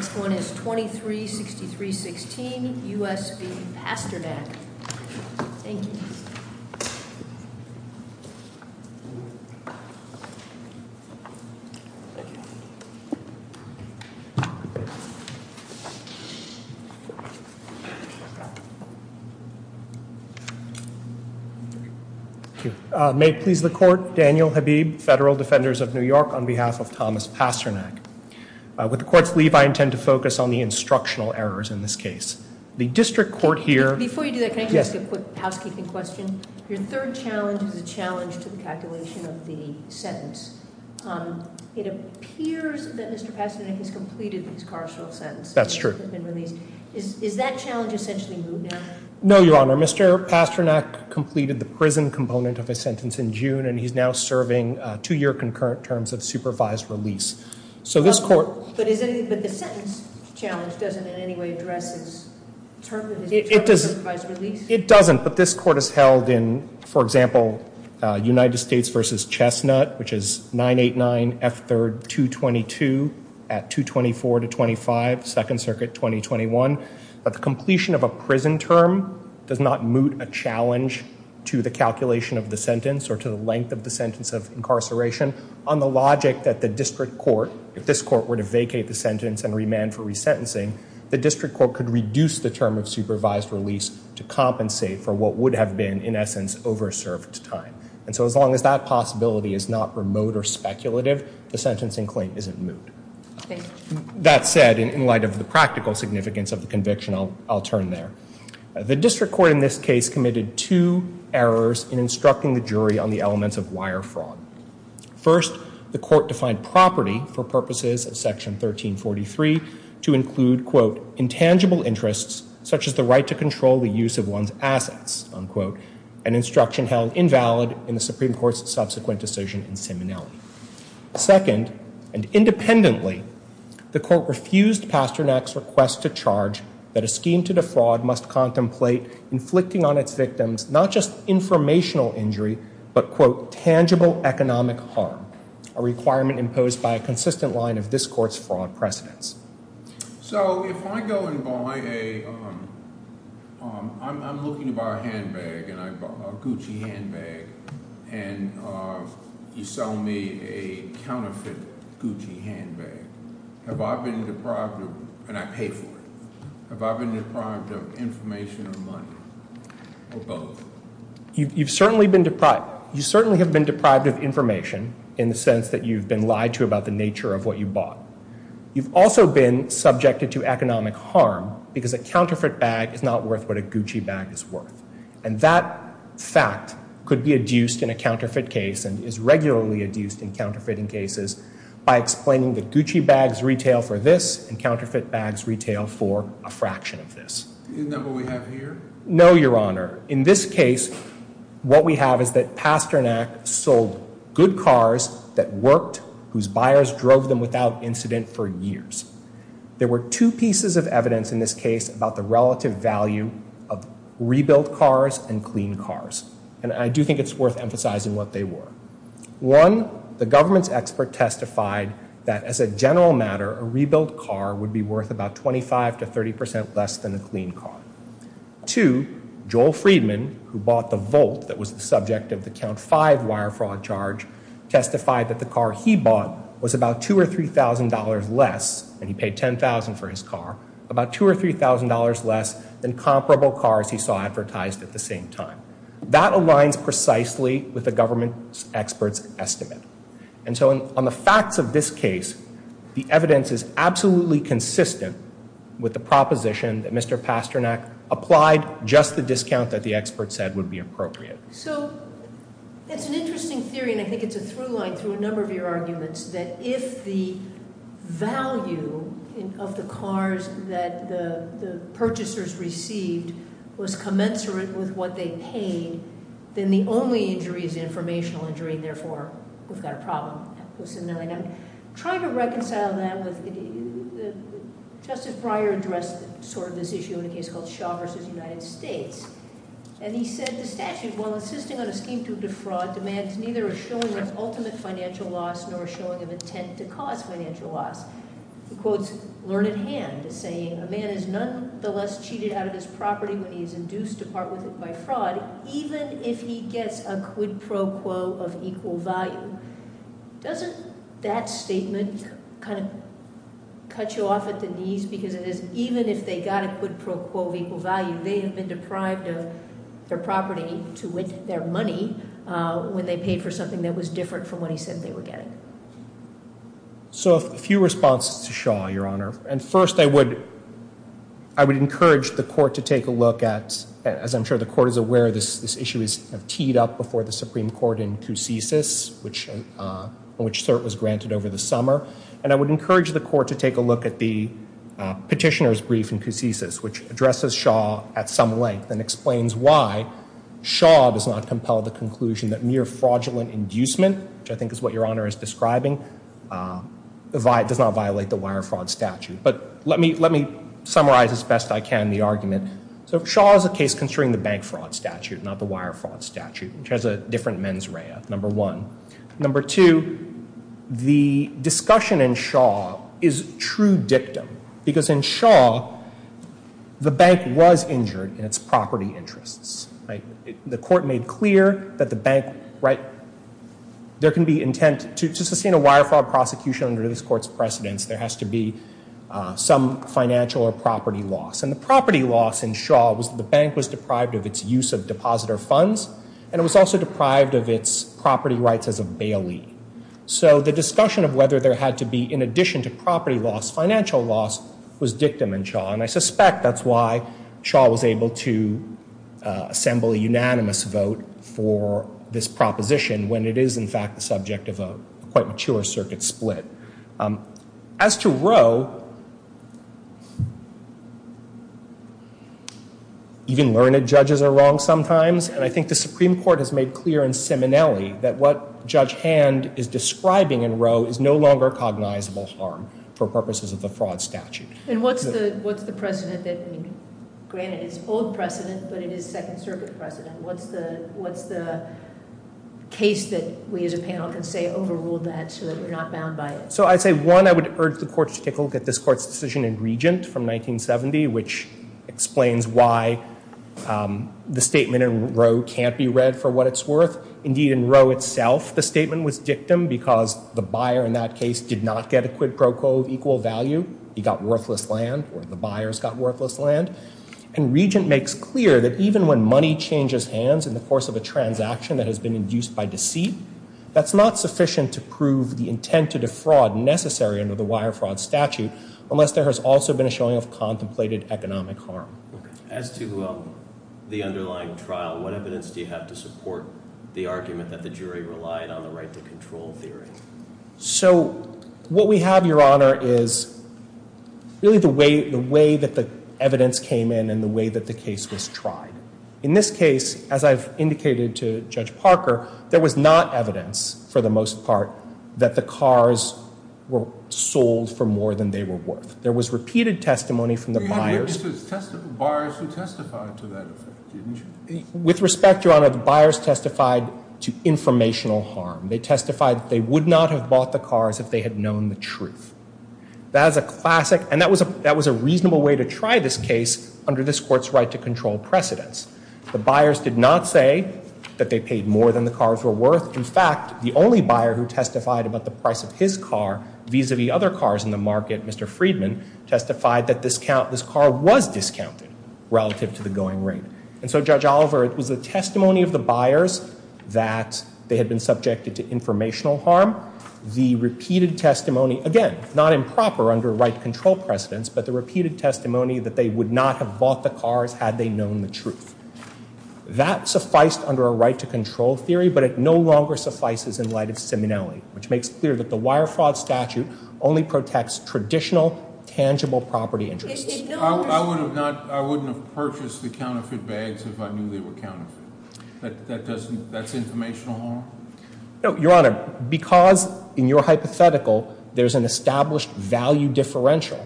The next one is 23-63-16, U.S. v. Pasternak. Thank you. May it please the court, Daniel Habib, Federal Defenders of New York, on behalf of Thomas Pasternak. With the court's leave, I intend to focus on the instructional errors in this case. The district court here... Before you do that, can I ask you a quick housekeeping question? Your third challenge is a challenge to the calculation of the sentence. It appears that Mr. Pasternak has completed his carceral sentence. That's true. Is that challenge essentially moved now? No, Your Honor. Mr. Pasternak completed the prison component of his sentence in June, and he's now serving two-year concurrent terms of supervised release. But the sentence challenge doesn't in any way address his term of supervised release? It doesn't, but this court has held in, for example, United States v. Chestnut, which is 989 F. 3rd. 222 at 224-25, 2nd Circuit, 2021, that the completion of a prison term does not moot a challenge to the calculation of the sentence or to the length of the sentence of incarceration on the logic that the district court, if this court were to vacate the sentence and remand for resentencing, the district court could reduce the term of supervised release to compensate for what would have been, in essence, over-served time. And so as long as that possibility is not remote or speculative, the sentencing claim isn't moot. That said, in light of the practical significance of the conviction, I'll turn there. The district court in this case committed two errors in instructing the jury on the elements of wire fraud. First, the court defined property for purposes of Section 1343 to include, quote, intangible interests such as the right to control the use of one's assets, unquote, an instruction held invalid in the Supreme Court's subsequent decision in Simonelli. Second, and independently, the court refused Pasternak's request to charge that a scheme to defraud must contemplate inflicting on its victims not just informational injury, but, quote, tangible economic harm, a requirement imposed by a consistent line of this court's fraud precedents. So if I go and buy a, I'm looking to buy a handbag, and I bought a Gucci handbag, and you sell me a counterfeit Gucci handbag, have I been deprived of, and I pay for it, have I been deprived of information or money, or both? You've certainly been deprived. You certainly have been deprived of information in the sense that you've been lied to about the nature of what you bought. You've also been subjected to economic harm because a counterfeit bag is not worth what a Gucci bag is worth. And that fact could be adduced in a counterfeit case and is regularly adduced in counterfeiting cases by explaining that Gucci bags retail for this and counterfeit bags retail for a fraction of this. Isn't that what we have here? No, Your Honor. In this case, what we have is that Pasternak sold good cars that worked, whose buyers drove them without incident for years. There were two pieces of evidence in this case about the relative value of rebuilt cars and clean cars, and I do think it's worth emphasizing what they were. One, the government's expert testified that as a general matter, a rebuilt car would be worth about 25 to 30 percent less than a clean car. Two, Joel Friedman, who bought the Volt that was the subject of the Count 5 wire fraud charge, testified that the car he bought was about $2,000 or $3,000 less, and he paid $10,000 for his car, about $2,000 or $3,000 less than comparable cars he saw advertised at the same time. That aligns precisely with the government expert's estimate. And so on the facts of this case, the evidence is absolutely consistent with the proposition that Mr. Pasternak applied just the discount that the expert said would be appropriate. So it's an interesting theory, and I think it's a through line through a number of your arguments, that if the value of the cars that the purchasers received was commensurate with what they paid, then the only injury is informational injury, and therefore, we've got a problem. I'm trying to reconcile that with – Justice Breyer addressed sort of this issue in a case called Shaw v. United States, and he said the statute, while insisting on a scheme to defraud, demands neither a showing of ultimate financial loss nor a showing of intent to cause financial loss. He quotes Learned Hand as saying, a man is nonetheless cheated out of his property when he is induced to part with it by fraud, even if he gets a quid pro quo of equal value. Doesn't that statement kind of cut you off at the knees, because it is even if they got a quid pro quo of equal value, they have been deprived of their property to with their money when they paid for something that was different from what he said they were getting. So a few responses to Shaw, Your Honor. And first, I would encourage the court to take a look at, as I'm sure the court is aware, this issue is teed up before the Supreme Court in Coussis, which CERT was granted over the summer. And I would encourage the court to take a look at the petitioner's brief in Coussis, which addresses Shaw at some length and explains why Shaw does not compel the conclusion that mere fraudulent inducement, which I think is what Your Honor is describing, does not violate the Wire Fraud Statute. But let me summarize as best I can the argument. So Shaw is a case concerning the Bank Fraud Statute, not the Wire Fraud Statute, which has a different mens rea, number one. Number two, the discussion in Shaw is true dictum, because in Shaw, the bank was injured in its property interests. The court made clear that the bank, right, there can be intent to sustain a wire fraud prosecution under this court's precedence. There has to be some financial or property loss. And the property loss in Shaw was the bank was deprived of its use of depositor funds, and it was also deprived of its property rights as a bailee. So the discussion of whether there had to be, in addition to property loss, financial loss, was dictum in Shaw. And I suspect that's why Shaw was able to assemble a unanimous vote for this proposition when it is, in fact, the subject of a quite mature circuit split. As to Roe, even learned judges are wrong sometimes. And I think the Supreme Court has made clear in Simonelli that what Judge Hand is describing in Roe is no longer cognizable harm for purposes of the Fraud Statute. And what's the precedent that, I mean, granted it's old precedent, but it is Second Circuit precedent. What's the case that we as a panel can say overruled that so that we're not bound by it? So I'd say, one, I would urge the court to take a look at this court's decision in Regent from 1970, which explains why the statement in Roe can't be read for what it's worth. Indeed, in Roe itself, the statement was dictum because the buyer in that case did not get a quid pro quo of equal value. He got worthless land or the buyers got worthless land. And Regent makes clear that even when money changes hands in the course of a transaction that has been induced by deceit, that's not sufficient to prove the intent to defraud necessary under the Wire Fraud Statute unless there has also been a showing of contemplated economic harm. As to the underlying trial, what evidence do you have to support the argument that the jury relied on the right to control theory? So what we have, Your Honor, is really the way that the evidence came in and the way that the case was tried. In this case, as I've indicated to Judge Parker, there was not evidence, for the most part, that the cars were sold for more than they were worth. There was repeated testimony from the buyers. We had witnesses, buyers who testified to that effect, didn't you? With respect, Your Honor, the buyers testified to informational harm. They testified that they would not have bought the cars if they had known the truth. That is a classic, and that was a reasonable way to try this case under this Court's right to control precedence. The buyers did not say that they paid more than the cars were worth. In fact, the only buyer who testified about the price of his car vis-a-vis other cars in the market, Mr. Friedman, testified that this car was discounted relative to the going rate. And so, Judge Oliver, it was the testimony of the buyers that they had been subjected to informational harm. The repeated testimony, again, not improper under right to control precedence, but the repeated testimony that they would not have bought the cars had they known the truth. That sufficed under a right to control theory, but it no longer suffices in light of seminality, which makes clear that the wire fraud statute only protects traditional, tangible property interests. I wouldn't have purchased the counterfeit bags if I knew they were counterfeit. That's informational harm? No, Your Honor, because in your hypothetical there's an established value differential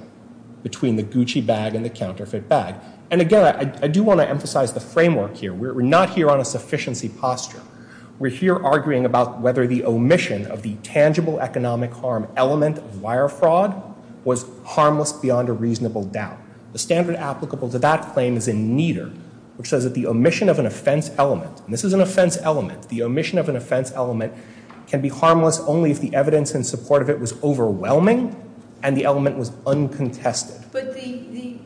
between the Gucci bag and the counterfeit bag. And again, I do want to emphasize the framework here. We're not here on a sufficiency posture. We're here arguing about whether the omission of the tangible economic harm element of wire fraud was harmless beyond a reasonable doubt. The standard applicable to that claim is in Nieder, which says that the omission of an offense element, and this is an offense element, the omission of an offense element can be harmless only if the evidence in support of it was overwhelming and the element was uncontested. But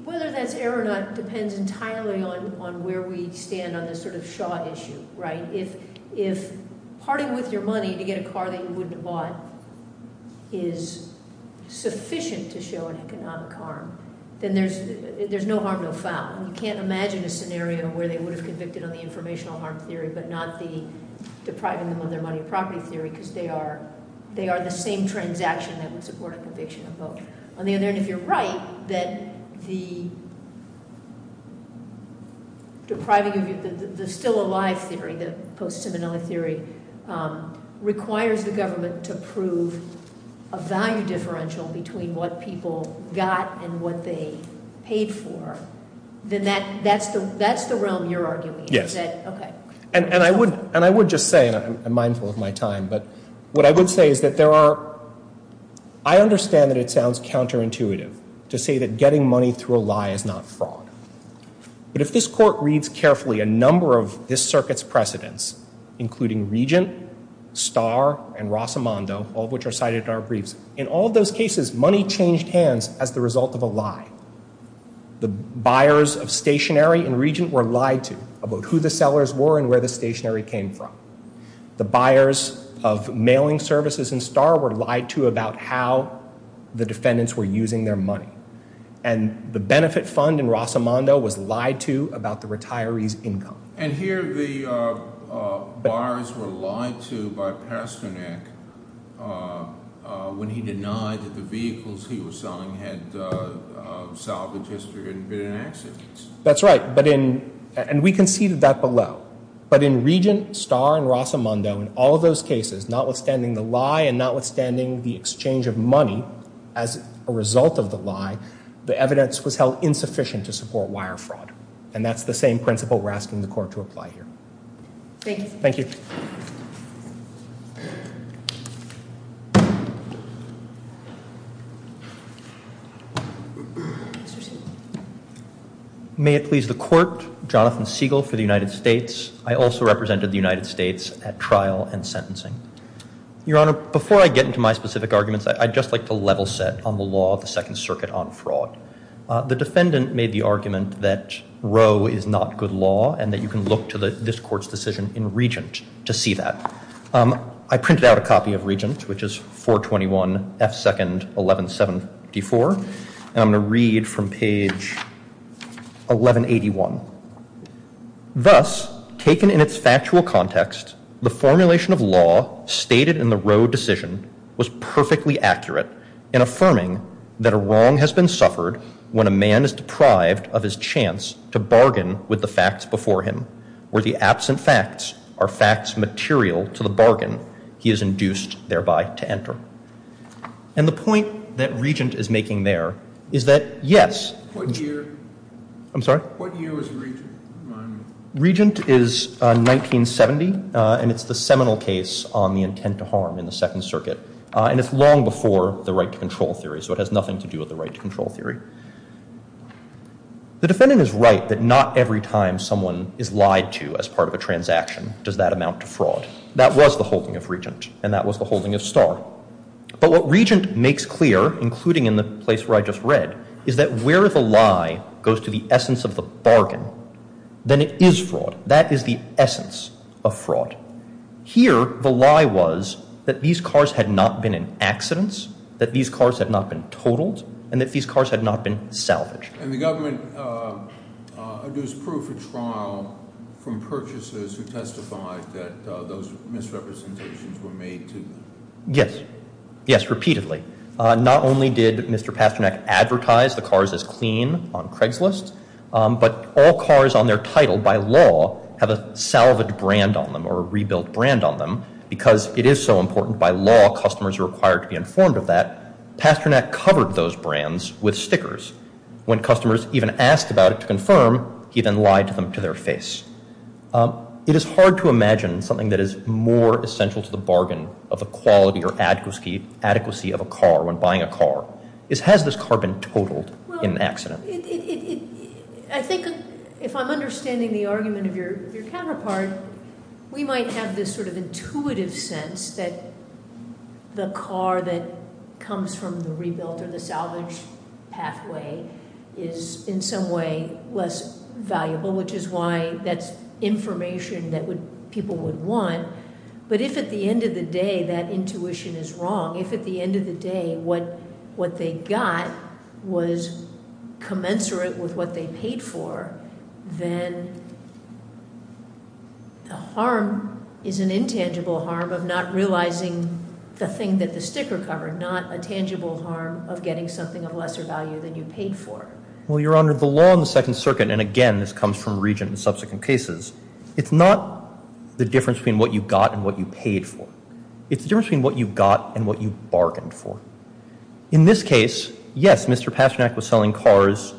whether that's error or not depends entirely on where we stand on this sort of Shaw issue, right? If parting with your money to get a car that you wouldn't have bought is sufficient to show an economic harm, then there's no harm no foul. You can't imagine a scenario where they would have convicted on the informational harm theory but not the depriving them of their money and property theory because they are the same transaction that would support a conviction of both. On the other hand, if you're right that the depriving of your, the still alive theory, the post-Seminole theory requires the government to prove a value differential between what people got and what they paid for, then that's the realm you're arguing. Yes. Okay. And I would just say, and I'm mindful of my time, but what I would say is that there are, I understand that it sounds counterintuitive to say that getting money through a lie is not fraud. But if this court reads carefully a number of this circuit's precedents, including Regent, Starr, and Rosamondo, all of which are cited in our briefs, in all of those cases money changed hands as the result of a lie. The buyers of stationery in Regent were lied to about who the sellers were and where the stationery came from. The buyers of mailing services in Starr were lied to about how the defendants were using their money. And the benefit fund in Rosamondo was lied to about the retirees' income. And here the buyers were lied to by Pasternak when he denied that the vehicles he was selling had salvaged history and been in accidents. That's right. And we conceded that below. But in Regent, Starr, and Rosamondo, in all of those cases, notwithstanding the lie and notwithstanding the exchange of money as a result of the lie, the evidence was held insufficient to support wire fraud. And that's the same principle we're asking the court to apply here. Thank you. Thank you. Mr. Siegel. May it please the court, Jonathan Siegel for the United States. I also represented the United States at trial and sentencing. Your Honor, before I get into my specific arguments, I'd just like to level set on the law of the Second Circuit on fraud. The defendant made the argument that Roe is not good law and that you can look to this court's decision in Regent to see that. I printed out a copy of Regent, which is 421 F. Second, 1174. And I'm going to read from page 1181. Thus, taken in its factual context, the formulation of law stated in the Roe decision was perfectly accurate in affirming that a wrong has been suffered when a man is deprived of his chance to bargain with the facts before him, where the absent facts are facts material to the bargain he is induced thereby to enter. And the point that Regent is making there is that, yes. What year? I'm sorry? What year was Regent? Regent is 1970, and it's the seminal case on the intent to harm in the Second Circuit. And it's long before the right to control theory, so it has nothing to do with the right to control theory. The defendant is right that not every time someone is lied to as part of a transaction does that amount to fraud. That was the holding of Regent, and that was the holding of Starr. But what Regent makes clear, including in the place where I just read, is that where the lie goes to the essence of the bargain, then it is fraud. That is the essence of fraud. Here, the lie was that these cars had not been in accidents, that these cars had not been totaled, and that these cars had not been salvaged. And the government produced proof at trial from purchasers who testified that those misrepresentations were made to- Yes. Yes, repeatedly. Not only did Mr. Pasternak advertise the cars as clean on Craigslist, but all cars on their title by law have a salvaged brand on them or a rebuilt brand on them. Because it is so important by law, customers are required to be informed of that. Pasternak covered those brands with stickers. When customers even asked about it to confirm, he then lied to them to their face. It is hard to imagine something that is more essential to the bargain of the quality or adequacy of a car when buying a car. Has this car been totaled in an accident? I think if I'm understanding the argument of your counterpart, we might have this sort of intuitive sense that the car that comes from the rebuilt or the salvaged pathway is in some way less valuable, which is why that's information that people would want. But if at the end of the day that intuition is wrong, if at the end of the day what they got was commensurate with what they paid for, then the harm is an intangible harm of not realizing the thing that the sticker covered, not a tangible harm of getting something of lesser value than you paid for. Well, you're under the law in the Second Circuit, and again, this comes from regent and subsequent cases. It's not the difference between what you got and what you paid for. It's the difference between what you got and what you bargained for. In this case, yes, Mr. Pasternak was selling cars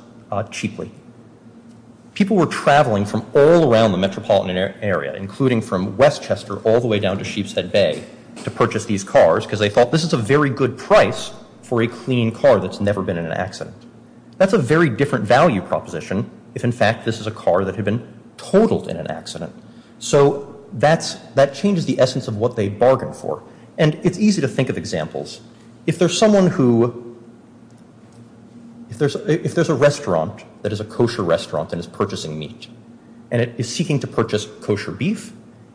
cheaply. People were traveling from all around the metropolitan area, including from Westchester all the way down to Sheepshead Bay, to purchase these cars because they thought this is a very good price for a clean car that's never been in an accident. That's a very different value proposition if, in fact, this is a car that had been totaled in an accident. So that changes the essence of what they bargained for. And it's easy to think of examples. If there's a restaurant that is a kosher restaurant and is purchasing meat, and it is seeking to purchase kosher beef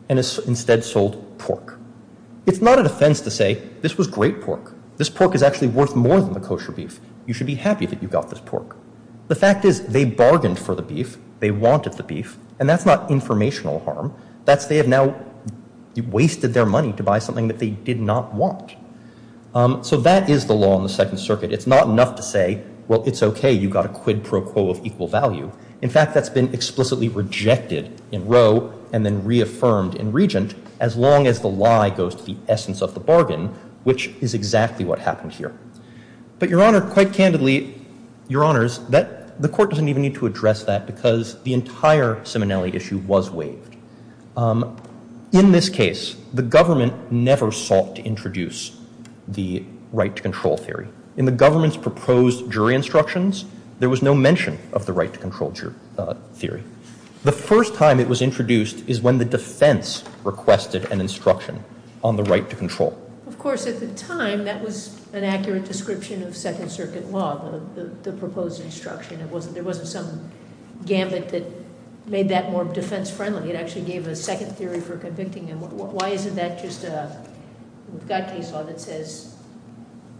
and has instead sold pork, it's not an offense to say, this was great pork. This pork is actually worth more than the kosher beef. You should be happy that you got this pork. The fact is they bargained for the beef. They wanted the beef. And that's not informational harm. That's they have now wasted their money to buy something that they did not want. So that is the law in the Second Circuit. It's not enough to say, well, it's OK. You got a quid pro quo of equal value. In fact, that's been explicitly rejected in Roe and then reaffirmed in Regent as long as the lie goes to the essence of the bargain, which is exactly what happened here. But Your Honor, quite candidly, Your Honors, the court doesn't even need to address that because the entire Simonelli issue was waived. In this case, the government never sought to introduce the right to control theory. In the government's proposed jury instructions, there was no mention of the right to control theory. The first time it was introduced is when the defense requested an instruction on the right to control. Of course, at the time, that was an accurate description of Second Circuit law, the proposed instruction. There wasn't some gambit that made that more defense friendly. It actually gave a second theory for convicting them. Why isn't that just a case law that says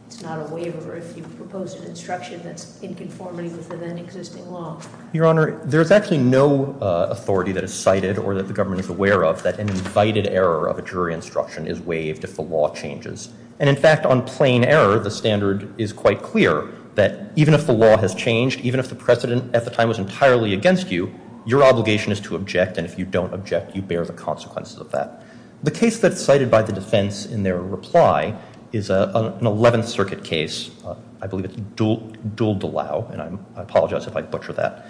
it's not a waiver if you propose an instruction that's in conformity with the then existing law? Your Honor, there's actually no authority that is cited or that the government is aware of that an invited error of a jury instruction is waived if the law changes. And in fact, on plain error, the standard is quite clear that even if the law has changed, even if the precedent at the time was entirely against you, your obligation is to object, and if you don't object, you bear the consequences of that. The case that's cited by the defense in their reply is an Eleventh Circuit case. I believe it's Duel de Lau, and I apologize if I butcher that.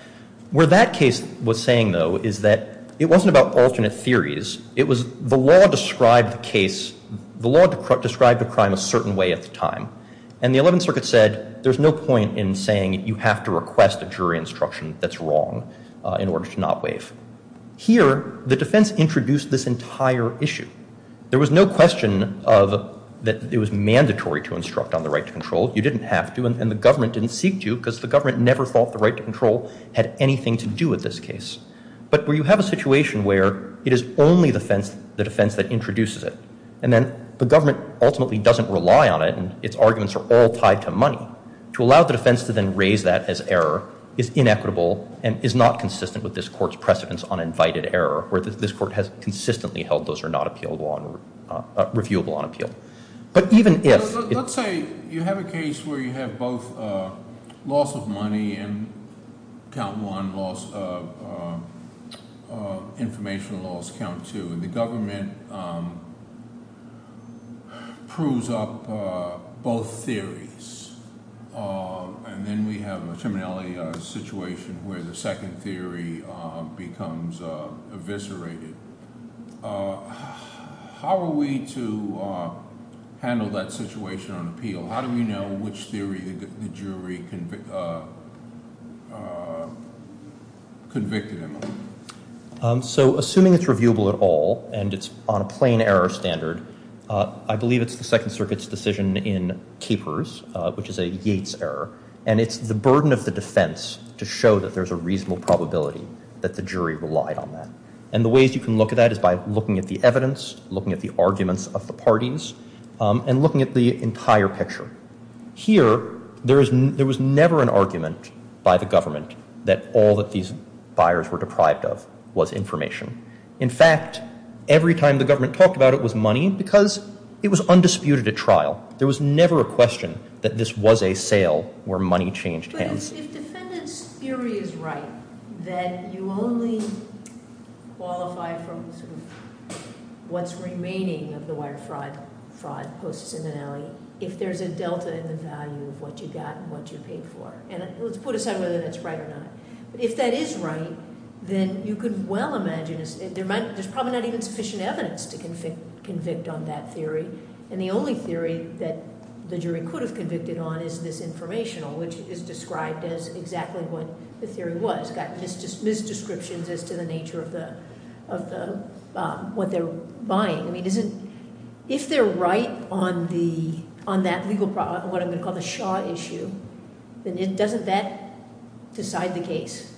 Where that case was saying, though, is that it wasn't about alternate theories. It was the law described the case, the law described the crime a certain way at the time, and the Eleventh Circuit said there's no point in saying you have to request a jury instruction that's wrong in order to not waive. Here, the defense introduced this entire issue. There was no question that it was mandatory to instruct on the right to control. You didn't have to, and the government didn't seek to because the government never thought the right to control had anything to do with this case. But where you have a situation where it is only the defense that introduces it, and then the government ultimately doesn't rely on it and its arguments are all tied to money, to allow the defense to then raise that as error is inequitable and is not consistent with this court's precedence on invited error, where this court has consistently held those are not reviewable on appeal. But even if- Let's say you have a case where you have both loss of money and count one, loss of information, loss count two, and the government proves up both theories, and then we have a criminality situation where the second theory becomes eviscerated. How are we to handle that situation on appeal? How do we know which theory the jury convicted him of? So assuming it's reviewable at all and it's on a plain error standard, I believe it's the Second Circuit's decision in Capers, which is a Yates error, and it's the burden of the defense to show that there's a reasonable probability that the jury relied on that. And the ways you can look at that is by looking at the evidence, looking at the arguments of the parties, and looking at the entire picture. Here, there was never an argument by the government that all that these buyers were deprived of was information. In fact, every time the government talked about it was money because it was undisputed at trial. There was never a question that this was a sale where money changed hands. But if defendant's theory is right, that you only qualify from sort of what's remaining of the wire fraud, fraud posts in the Nellie, if there's a delta in the value of what you got and what you paid for. And let's put aside whether that's right or not. But if that is right, then you could well imagine there's probably not even sufficient evidence to convict on that theory. And the only theory that the jury could have convicted on is this informational, which is described as exactly what the theory was. It's got misdescriptions as to the nature of what they're buying. If they're right on what I'm going to call the Shaw issue, then doesn't that decide the case?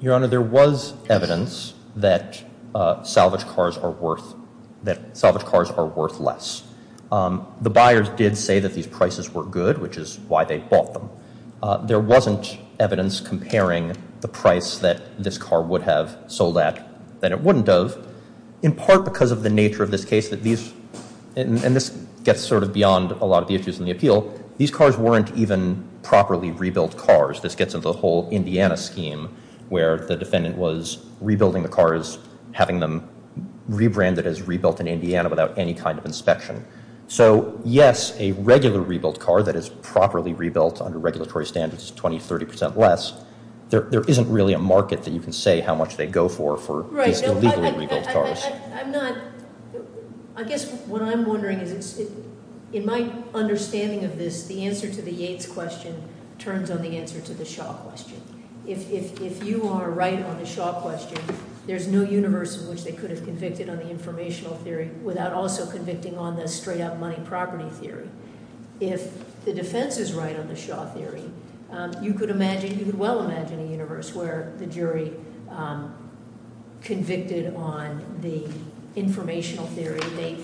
Your Honor, there was evidence that salvage cars are worth less. The buyers did say that these prices were good, which is why they bought them. There wasn't evidence comparing the price that this car would have sold at that it wouldn't have, in part because of the nature of this case that these, and this gets sort of beyond a lot of the issues in the appeal, these cars weren't even properly rebuilt cars. This gets into the whole Indiana scheme where the defendant was rebuilding the cars, having them rebranded as rebuilt in Indiana without any kind of inspection. So yes, a regular rebuilt car that is properly rebuilt under regulatory standards is 20, 30% less. There isn't really a market that you can say how much they go for for these illegally rebuilt cars. I guess what I'm wondering is in my understanding of this, the answer to the Yates question turns on the answer to the Shaw question. If you are right on the Shaw question, there's no universe in which they could have convicted on the informational theory without also convicting on the straight up money property theory. If the defense is right on the Shaw theory, you could imagine, you could well imagine a universe where the jury convicted on the informational theory. They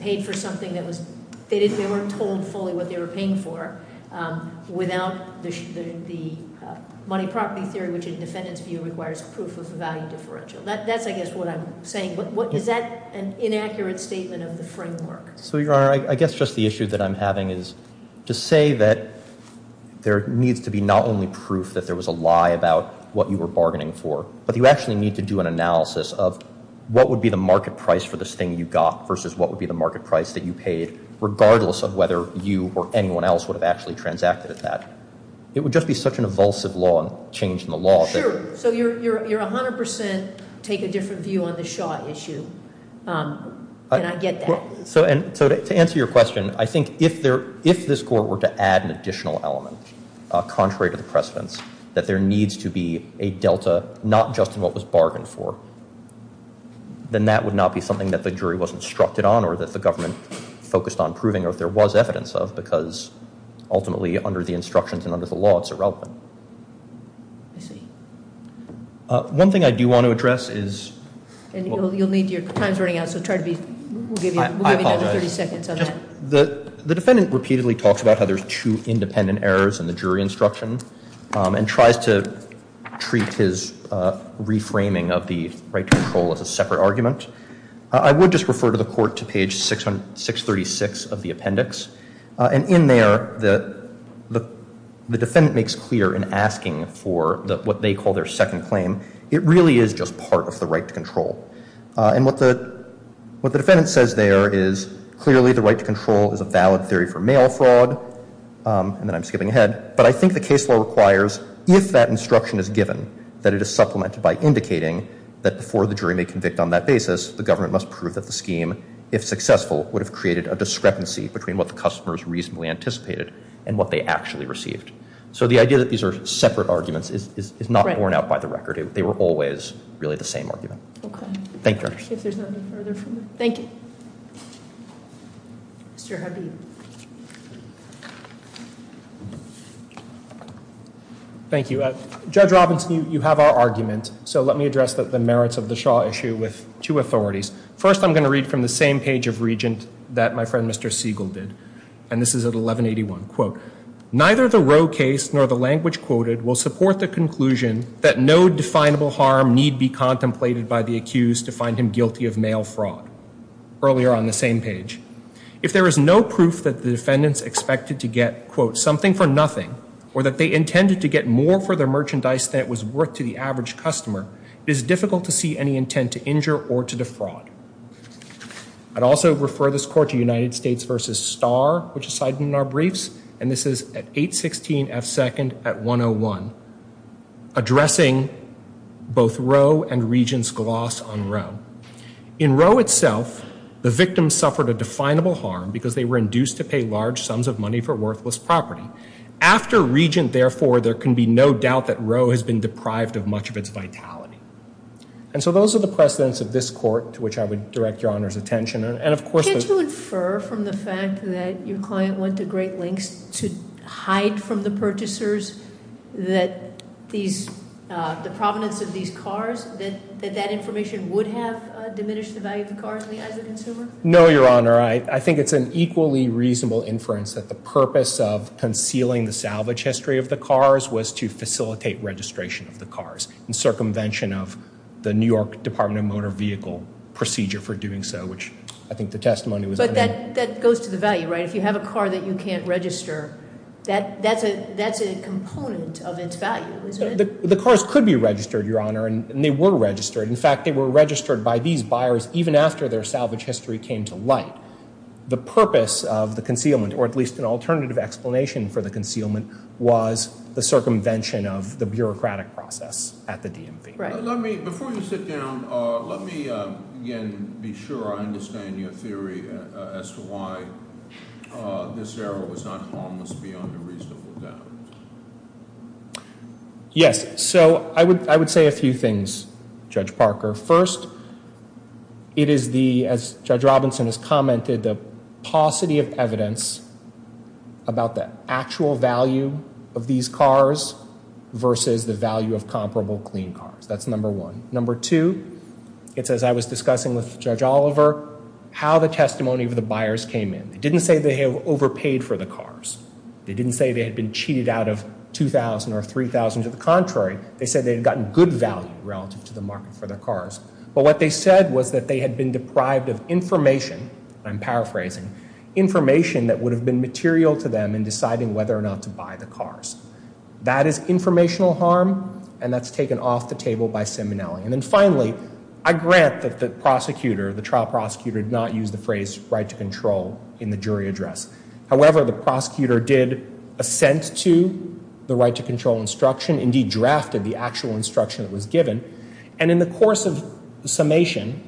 paid for something that was, they weren't told fully what they were paying for without the money property theory, which in defendant's view requires proof of value differential. That's I guess what I'm saying. Is that an inaccurate statement of the framework? So Your Honor, I guess just the issue that I'm having is to say that there needs to be not only proof that there was a lie about what you were bargaining for, but you actually need to do an analysis of what would be the market price for this thing you got versus what would be the market price that you paid, regardless of whether you or anyone else would have actually transacted at that. It would just be such an evulsive law and change in the law. Sure. So you're 100% take a different view on the Shaw issue. And I get that. So to answer your question, I think if this court were to add an additional element, contrary to the precedents, that there needs to be a delta not just in what was bargained for, then that would not be something that the jury was instructed on or that the government focused on proving or if there was evidence of because ultimately under the instructions and under the law it's irrelevant. I see. One thing I do want to address is- And you'll need your time's running out, so try to be- The defendant repeatedly talks about how there's two independent errors in the jury instruction and tries to treat his reframing of the right to control as a separate argument. I would just refer to the court to page 636 of the appendix. And in there, the defendant makes clear in asking for what they call their second claim, it really is just part of the right to control. And what the defendant says there is clearly the right to control is a valid theory for mail fraud. And then I'm skipping ahead. But I think the case law requires if that instruction is given, that it is supplemented by indicating that before the jury may convict on that basis, the government must prove that the scheme, if successful, would have created a discrepancy between what the customers reasonably anticipated and what they actually received. So the idea that these are separate arguments is not worn out by the record. They were always really the same argument. Okay. Thank you, Your Honor. Thank you. Mr. Habib. Thank you. Judge Robinson, you have our argument. So let me address the merits of the Shaw issue with two authorities. First, I'm going to read from the same page of Regent that my friend Mr. Siegel did. And this is at 1181. Quote, neither the Roe case nor the language quoted will support the conclusion that no definable harm need be contemplated by the accused to find him guilty of mail fraud. Earlier on the same page. If there is no proof that the defendants expected to get, quote, something for nothing, or that they intended to get more for their merchandise than it was worth to the average customer, it is difficult to see any intent to injure or to defraud. I'd also refer this court to United States v. Starr, which is cited in our briefs, and this is at 816 F. Second at 101, addressing both Roe and Regent's gloss on Roe. In Roe itself, the victim suffered a definable harm because they were induced to pay large sums of money for worthless property. After Regent, therefore, there can be no doubt that Roe has been deprived of much of its vitality. And so those are the precedents of this court to which I would direct Your Honor's attention. Can't you infer from the fact that your client went to great lengths to hide from the purchasers that the provenance of these cars, that that information would have diminished the value of the cars as a consumer? No, Your Honor. I think it's an equally reasonable inference that the purpose of concealing the salvage history of the cars was to facilitate registration of the cars in circumvention of the New York Department of Motor Vehicle procedure for doing so, which I think the testimony was- But that goes to the value, right? If you have a car that you can't register, that's a component of its value, isn't it? The cars could be registered, Your Honor, and they were registered. In fact, they were registered by these buyers even after their salvage history came to light. The purpose of the concealment, or at least an alternative explanation for the concealment, was the circumvention of the bureaucratic process at the DMV. Before you sit down, let me again be sure I understand your theory as to why this error was not harmless beyond a reasonable doubt. Yes, so I would say a few things, Judge Parker. First, it is the, as Judge Robinson has commented, the paucity of evidence about the actual value of these cars versus the value of comparable clean cars. That's number one. Number two, it's as I was discussing with Judge Oliver, how the testimony of the buyers came in. They didn't say they have overpaid for the cars. They didn't say they had been cheated out of $2,000 or $3,000. To the contrary, they said they had gotten good value relative to the market for their cars. But what they said was that they had been deprived of information, and I'm paraphrasing, information that would have been material to them in deciding whether or not to buy the cars. That is informational harm, and that's taken off the table by Seminelli. And then finally, I grant that the prosecutor, the trial prosecutor, did not use the phrase right to control in the jury address. However, the prosecutor did assent to the right to control instruction, indeed drafted the actual instruction that was given. And in the course of summation,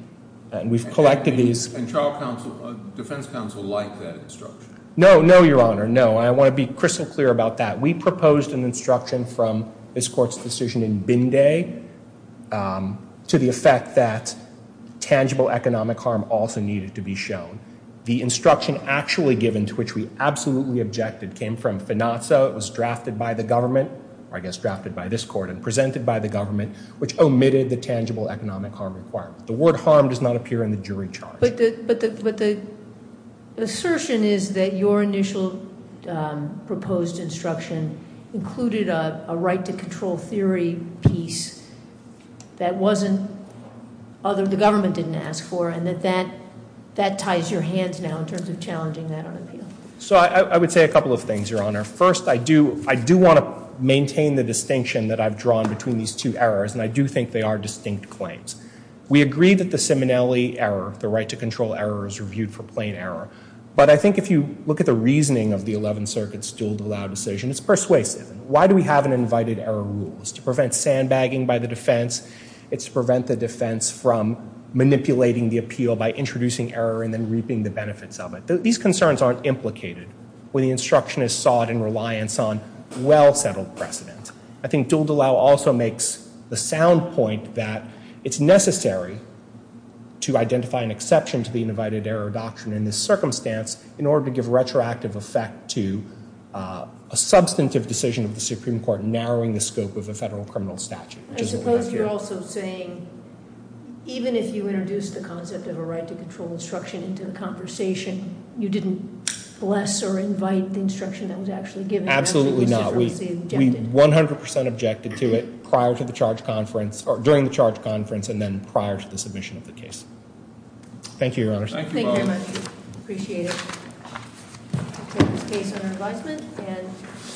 we've collected these. And trial counsel, defense counsel, liked that instruction? No, no, Your Honor, no. I want to be crystal clear about that. We proposed an instruction from this Court's decision in Bindé to the effect that tangible economic harm also needed to be shown. The instruction actually given, to which we absolutely objected, came from Finazzo. It was drafted by the government, or I guess drafted by this Court and presented by the government, which omitted the tangible economic harm requirement. The word harm does not appear in the jury charge. But the assertion is that your initial proposed instruction included a right to control theory piece that the government didn't ask for, and that that ties your hands now in terms of challenging that on appeal. So I would say a couple of things, Your Honor. First, I do want to maintain the distinction that I've drawn between these two errors, and I do think they are distinct claims. We agree that the Simonelli error, the right to control error, is reviewed for plain error. But I think if you look at the reasoning of the Eleventh Circuit's Duldulao decision, it's persuasive. Why do we have an invited error rule? It's to prevent sandbagging by the defense. It's to prevent the defense from manipulating the appeal by introducing error and then reaping the benefits of it. These concerns aren't implicated when the instruction is sought in reliance on well-settled precedent. I think Duldulao also makes the sound point that it's necessary to identify an exception to the invited error doctrine in this circumstance in order to give retroactive effect to a substantive decision of the Supreme Court narrowing the scope of a federal criminal statute. I suppose you're also saying even if you introduced the concept of a right to control instruction into the conversation, you didn't bless or invite the instruction that was actually given. Absolutely not. We 100% objected to it prior to the charge conference or during the charge conference and then prior to the submission of the case. Thank you, Your Honor. Thank you very much. Appreciate it.